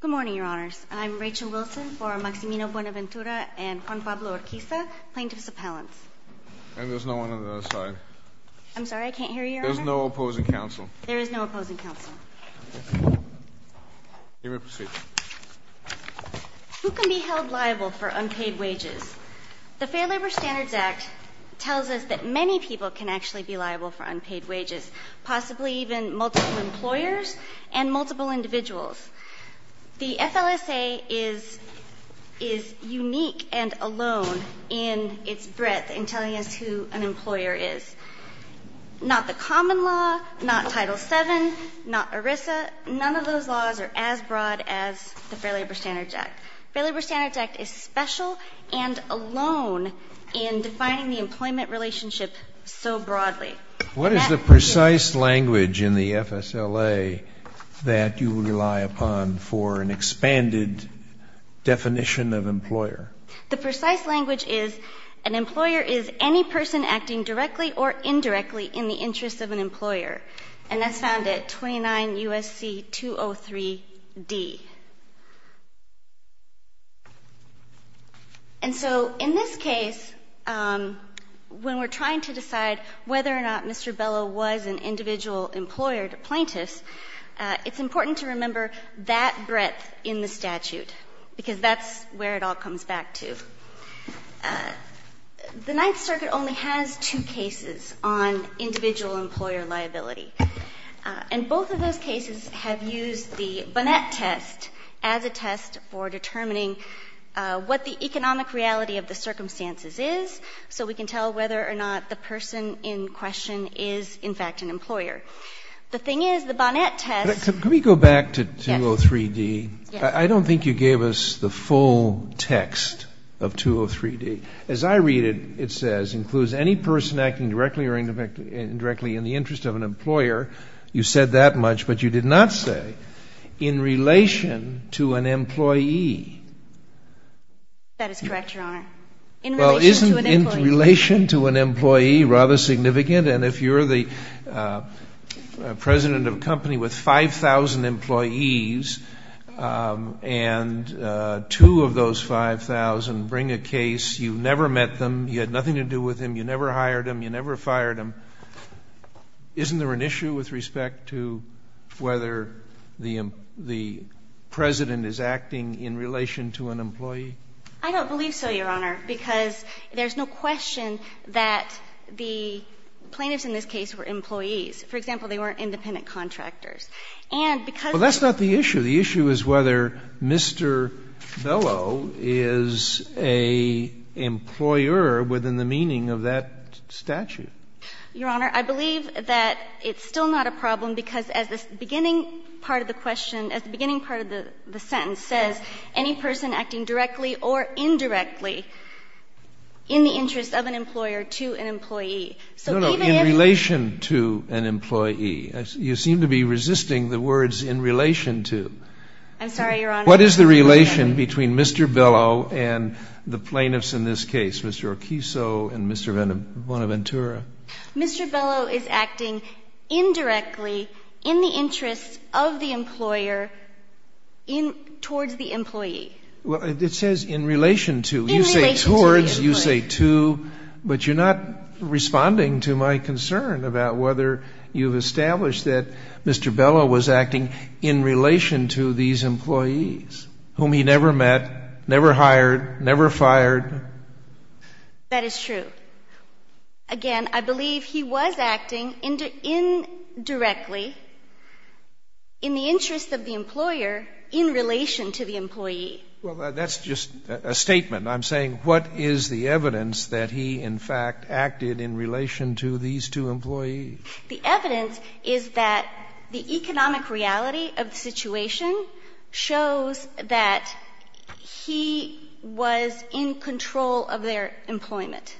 Good morning, Your Honors. I'm Rachel Wilson for Maximino Buenaventura and Juan Pablo Orquiza, plaintiffs' appellants. And there's no one on the other side. I'm sorry, I can't hear you, Your Honor. There's no opposing counsel. There is no opposing counsel. You may proceed. Who can be held liable for unpaid wages? The Fair Labor Standards Act tells us that many people can actually be liable for unpaid wages, possibly even multiple employers and multiple individuals. The FLSA is unique and alone in its breadth in telling us who an employer is. Not the common law, not Title VII, not ERISA. None of those laws are as broad as the Fair Labor Standards Act. The Fair Labor Standards Act is special and alone in defining the employment relationship so broadly. What is the precise language in the FSLA that you rely upon for an expanded definition of employer? The precise language is an employer is any person acting directly or indirectly in the interest of an employer. And that's found at 29 U.S.C. 203d. And so in this case, when we're trying to decide whether or not Mr. Bellow was an individual employer to plaintiffs, it's important to remember that breadth in the statute, because that's where it all comes back to. The Ninth Circuit only has two cases on individual employer liability. And both of those cases have used the Bonnet test as a test for determining what the economic reality of the circumstances is, so we can tell whether or not the person in question is, in fact, an employer. The thing is, the Bonnet test — Could we go back to 203d? Yes. I don't think you gave us the full text of 203d. As I read it, it says, includes any person acting directly or indirectly in the interest of an employer. You said that much, but you did not say in relation to an employee. That is correct, Your Honor. In relation to an employee. Well, isn't in relation to an employee rather significant? And if you're the president of a company with 5,000 employees, and two of those 5,000 bring a case, you never met them, you had nothing to do with them, you never hired them, you never fired them, isn't there an issue with respect to whether the president is acting in relation to an employee? I don't believe so, Your Honor, because there's no question that the plaintiffs in this case were employees. For example, they weren't independent contractors. Well, that's not the issue. The issue is whether Mr. Bellow is an employer within the meaning of that statute. Your Honor, I believe that it's still not a problem because as the beginning part of the question, as the beginning part of the sentence says, any person acting directly or indirectly in the interest of an employer to an employee. No, no, in relation to an employee. You seem to be resisting the words in relation to. I'm sorry, Your Honor. What is the relation between Mr. Bellow and the plaintiffs in this case, Mr. Oquiso and Mr. Bonaventura? Mr. Bellow is acting indirectly in the interest of the employer towards the employee. In relation to the employee. But you're not responding to my concern about whether you've established that Mr. Bellow was acting in relation to these employees whom he never met, never hired, never fired. That is true. Again, I believe he was acting indirectly in the interest of the employer in relation to the employee. Well, that's just a statement. I'm saying what is the evidence that he, in fact, acted in relation to these two employees? The evidence is that the economic reality of the situation shows that he was in control of their employment.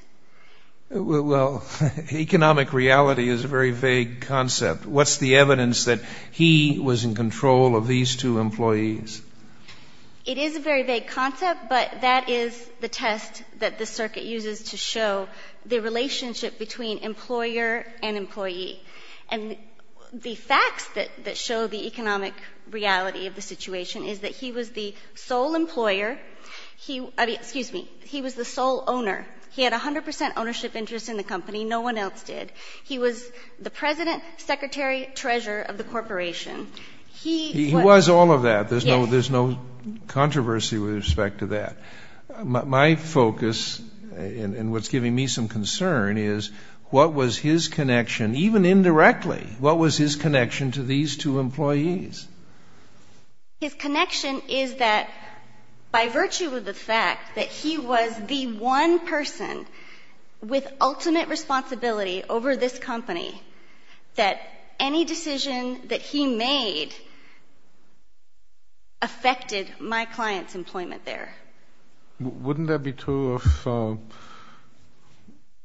Well, economic reality is a very vague concept. What's the evidence that he was in control of these two employees? It is a very vague concept, but that is the test that the circuit uses to show the relationship between employer and employee. And the facts that show the economic reality of the situation is that he was the sole employer. He was the sole owner. He had 100 percent ownership interest in the company. No one else did. He was the president, secretary, treasurer of the corporation. He was all of that. There's no controversy with respect to that. My focus, and what's giving me some concern, is what was his connection, even indirectly, what was his connection to these two employees? His connection is that by virtue of the fact that he was the one person with ultimate responsibility over this company, that any decision that he made affected my client's employment there. Wouldn't that be true of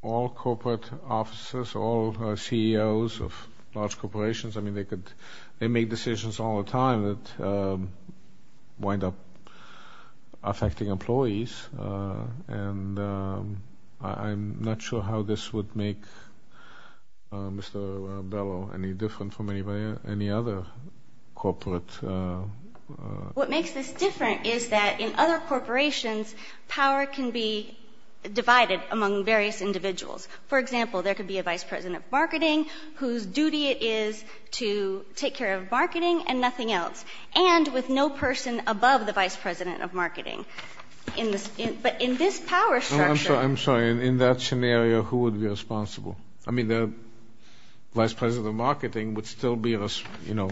all corporate offices, all CEOs of large corporations? I mean, they make decisions all the time that wind up affecting employees, and I'm not sure how this would make Mr. Bellow any different from any other corporate. What makes this different is that in other corporations, power can be divided among various individuals. For example, there could be a vice president of marketing whose duty it is to take care of marketing and nothing else, and with no person above the vice president of marketing. But in this power structure. I'm sorry. In that scenario, who would be responsible? I mean, the vice president of marketing would still be, you know,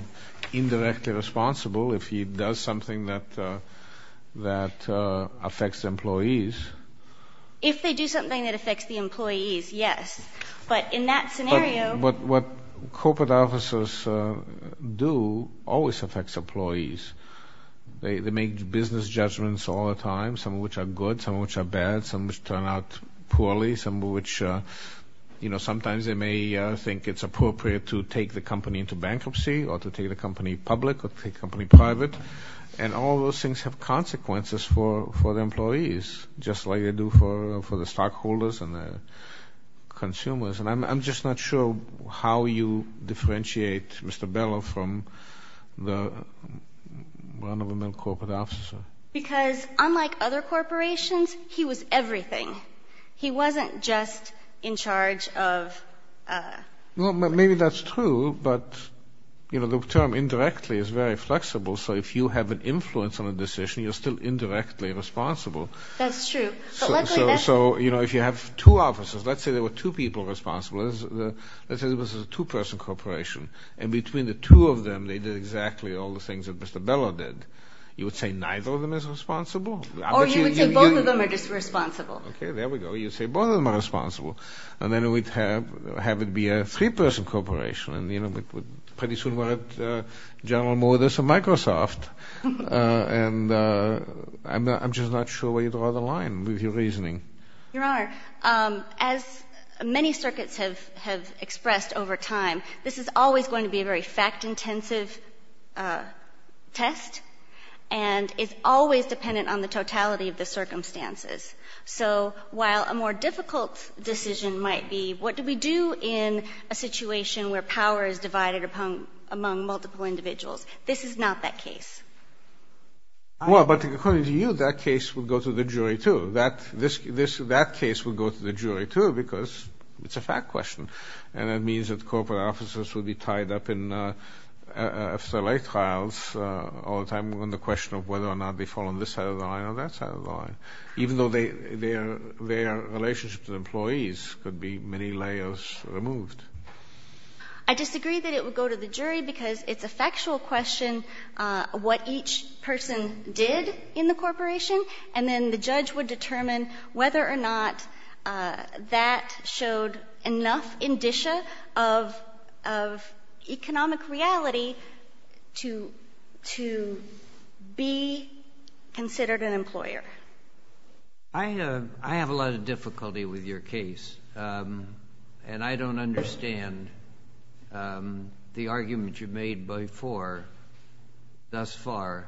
indirectly responsible if he does something that affects employees. If they do something that affects the employees, yes. But in that scenario. What corporate offices do always affects employees. They make business judgments all the time, some of which are good, some of which are bad, some of which turn out poorly, some of which, you know, sometimes they may think it's appropriate to take the company into bankruptcy or to take the company public or take the company private, and all those things have consequences for the employees, just like they do for the stockholders and the consumers. I'm just not sure how you differentiate Mr. Bellow from the run-of-the-mill corporate officer. Because unlike other corporations, he was everything. He wasn't just in charge of. Well, maybe that's true, but, you know, the term indirectly is very flexible, so if you have an influence on a decision, you're still indirectly responsible. That's true. So, you know, if you have two officers, let's say there were two people responsible, let's say it was a two-person corporation, and between the two of them they did exactly all the things that Mr. Bellow did, you would say neither of them is responsible? Or you would say both of them are just responsible. Okay, there we go. You'd say both of them are responsible. And then we'd have it be a three-person corporation, and, you know, pretty soon we're at General Motors or Microsoft. And I'm just not sure where you draw the line with your reasoning. Your Honor, as many circuits have expressed over time, this is always going to be a very fact-intensive test and is always dependent on the totality of the circumstances. So while a more difficult decision might be, what do we do in a situation where power is divided among multiple individuals, this is not that case. Well, but according to you, that case would go to the jury, too. That case would go to the jury, too, because it's a fact question, and it means that corporate officers would be tied up in a select trials all the time on the question of whether or not they fall on this side of the line or that side of the line, even though their relationships with employees could be many layers removed. I disagree that it would go to the jury because it's a factual question what each person did in the corporation, and then the judge would determine whether or not that showed enough indicia of economic reality to be considered an employer. I have a lot of difficulty with your case, and I don't understand the argument you've made thus far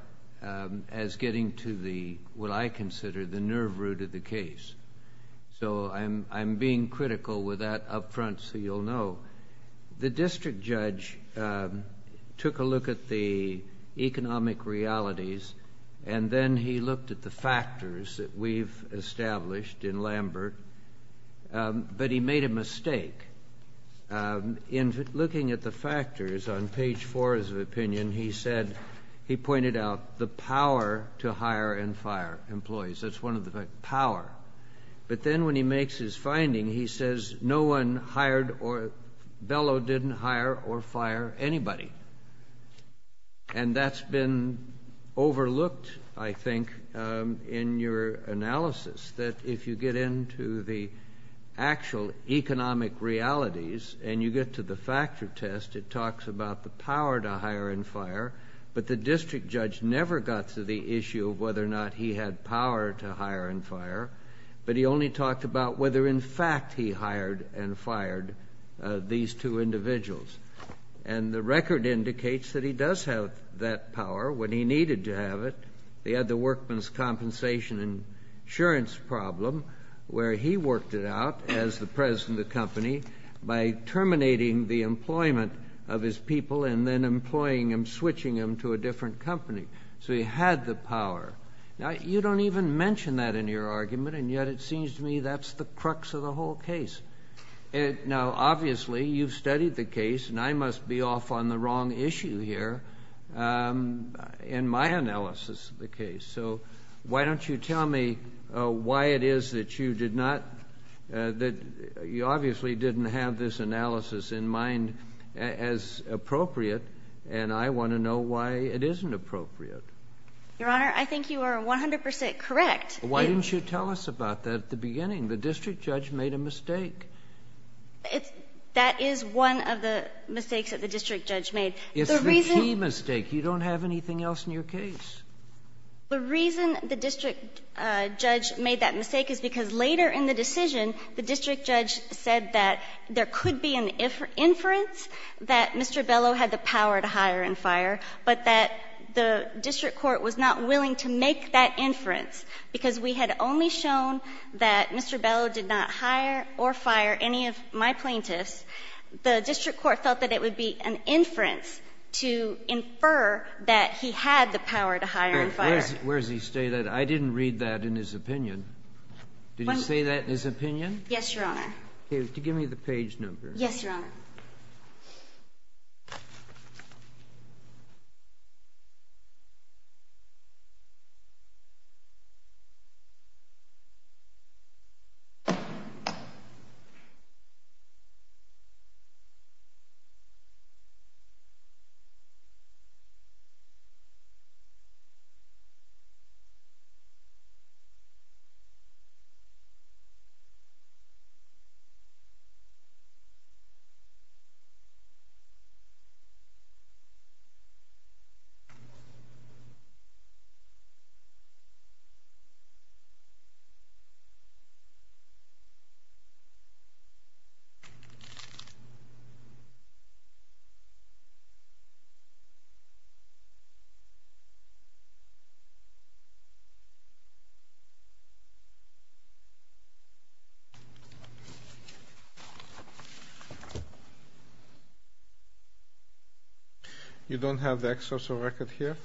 as getting to what I consider the nerve root of the case. So I'm being critical with that up front so you'll know. The district judge took a look at the economic realities, and then he looked at the factors that we've established in Lambert, but he made a mistake. In looking at the factors on page four of his opinion, he said, he pointed out the power to hire and fire employees. That's one of the factors, power. But then when he makes his finding, he says no one hired or, Bellow didn't hire or fire anybody. And that's been overlooked, I think, in your analysis, that if you get into the actual economic realities and you get to the factor test, it talks about the power to hire and fire, but the district judge never got to the issue of whether or not he had power to hire and fire, but he only talked about whether, in fact, he hired and fired these two individuals. And the record indicates that he does have that power when he needed to have it. He had the workman's compensation insurance problem, where he worked it out as the president of the company by terminating the employment of his people and then employing him, switching him to a different company. So he had the power. Now, you don't even mention that in your argument, and yet it seems to me that's the crux of the whole case. Now, obviously, you've studied the case, and I must be off on the wrong issue here. In my analysis of the case. So why don't you tell me why it is that you did not, that you obviously didn't have this analysis in mind as appropriate, and I want to know why it isn't appropriate. Your Honor, I think you are 100% correct. Why didn't you tell us about that at the beginning? The district judge made a mistake. That is one of the mistakes that the district judge made. It's the key mistake. You don't have anything else in your case. The reason the district judge made that mistake is because later in the decision, the district judge said that there could be an inference that Mr. Bellow had the power to hire and fire, but that the district court was not willing to make that inference, because we had only shown that Mr. Bellow did not hire or fire any of my plaintiffs. The district court felt that it would be an inference to infer that he had the power to hire and fire. Where does he say that? I didn't read that in his opinion. Did he say that in his opinion? Yes, Your Honor. Okay. Give me the page number. Yes, Your Honor. Okay. You don't have the excerpt of the record here?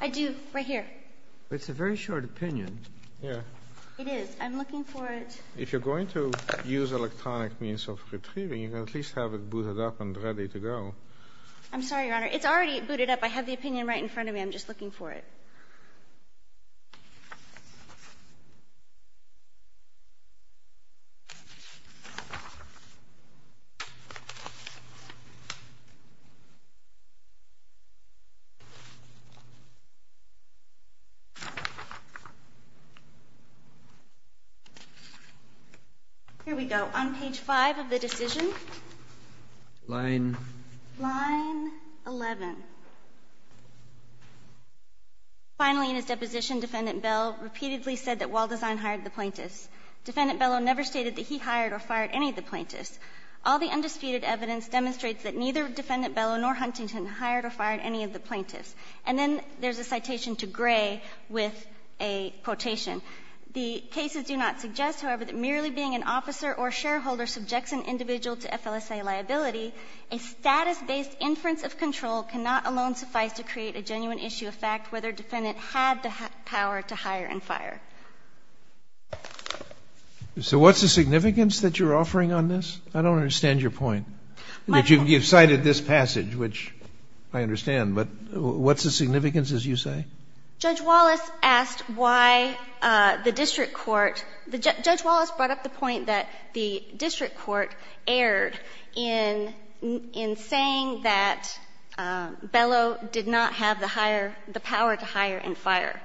I do, right here. But it's a very short opinion. Yeah. It is. I'm looking for it. If you're going to use electronic means of retrieving, you can at least have it booted up and ready to go. I'm sorry, Your Honor. It's already booted up. I have the opinion right in front of me. I'm just looking for it. Here we go. On page 5 of the decision. Line 11. Finally, in his deposition, Defendant Bellow repeatedly said that Waldesein hired the plaintiffs. Defendant Bellow never stated that he hired or fired any of the plaintiffs. All the undisputed evidence demonstrates that neither Defendant Bellow nor Huntington hired or fired any of the plaintiffs. The cases do not suggest, however, that merely being an officer or shareholder subjects an individual to FLSA liability. A status-based inference of control cannot alone suffice to create a genuine issue of fact whether Defendant had the power to hire and fire. So what's the significance that you're offering on this? I don't understand your point. You've cited this passage, which I understand, but what's the significance, as you say? Judge Wallace asked why the district court — Judge Wallace brought up the point that the district court erred in saying that Bellow did not have the power to hire and fire.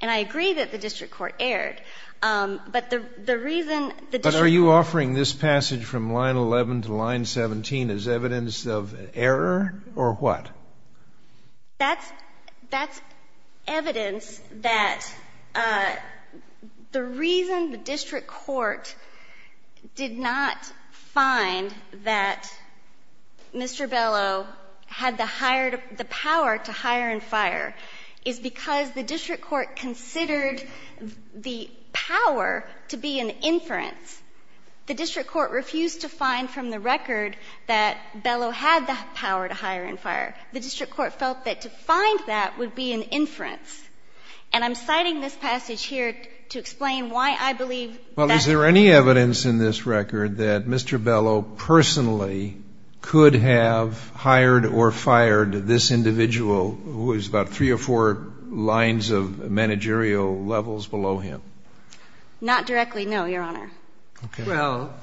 And I agree that the district court erred. But the reason the district court — But are you offering this passage from line 11 to line 17 as evidence of error, or what? That's — that's evidence that the reason the district court did not find that Mr. Bellow had the higher — the power to hire and fire is because the district court considered the power to be an inference. The district court refused to find from the record that Bellow had the power to hire and fire. The district court felt that to find that would be an inference. And I'm citing this passage here to explain why I believe that's — Well, is there any evidence in this record that Mr. Bellow personally could have hired or fired this individual, who is about three or four lines of managerial levels below him? Not directly, no, Your Honor. Okay. Well,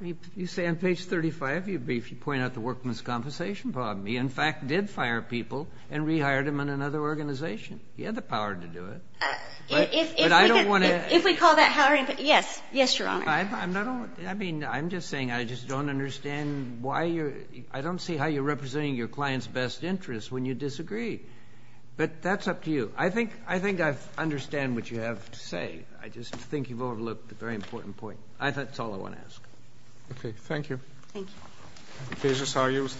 you say on page 35, you briefly point out the workman's compensation problem. He, in fact, did fire people and rehired them in another organization. He had the power to do it. If — But I don't want to — If we call that hiring — yes. Yes, Your Honor. I'm not — I mean, I'm just saying I just don't understand why you're — I don't see how you're representing your client's best interest when you disagree. But that's up to you. I think I understand what you have to say. I just think you've overlooked a very important point. That's all I want to ask. Okay. Thank you. Thank you. The case is argued.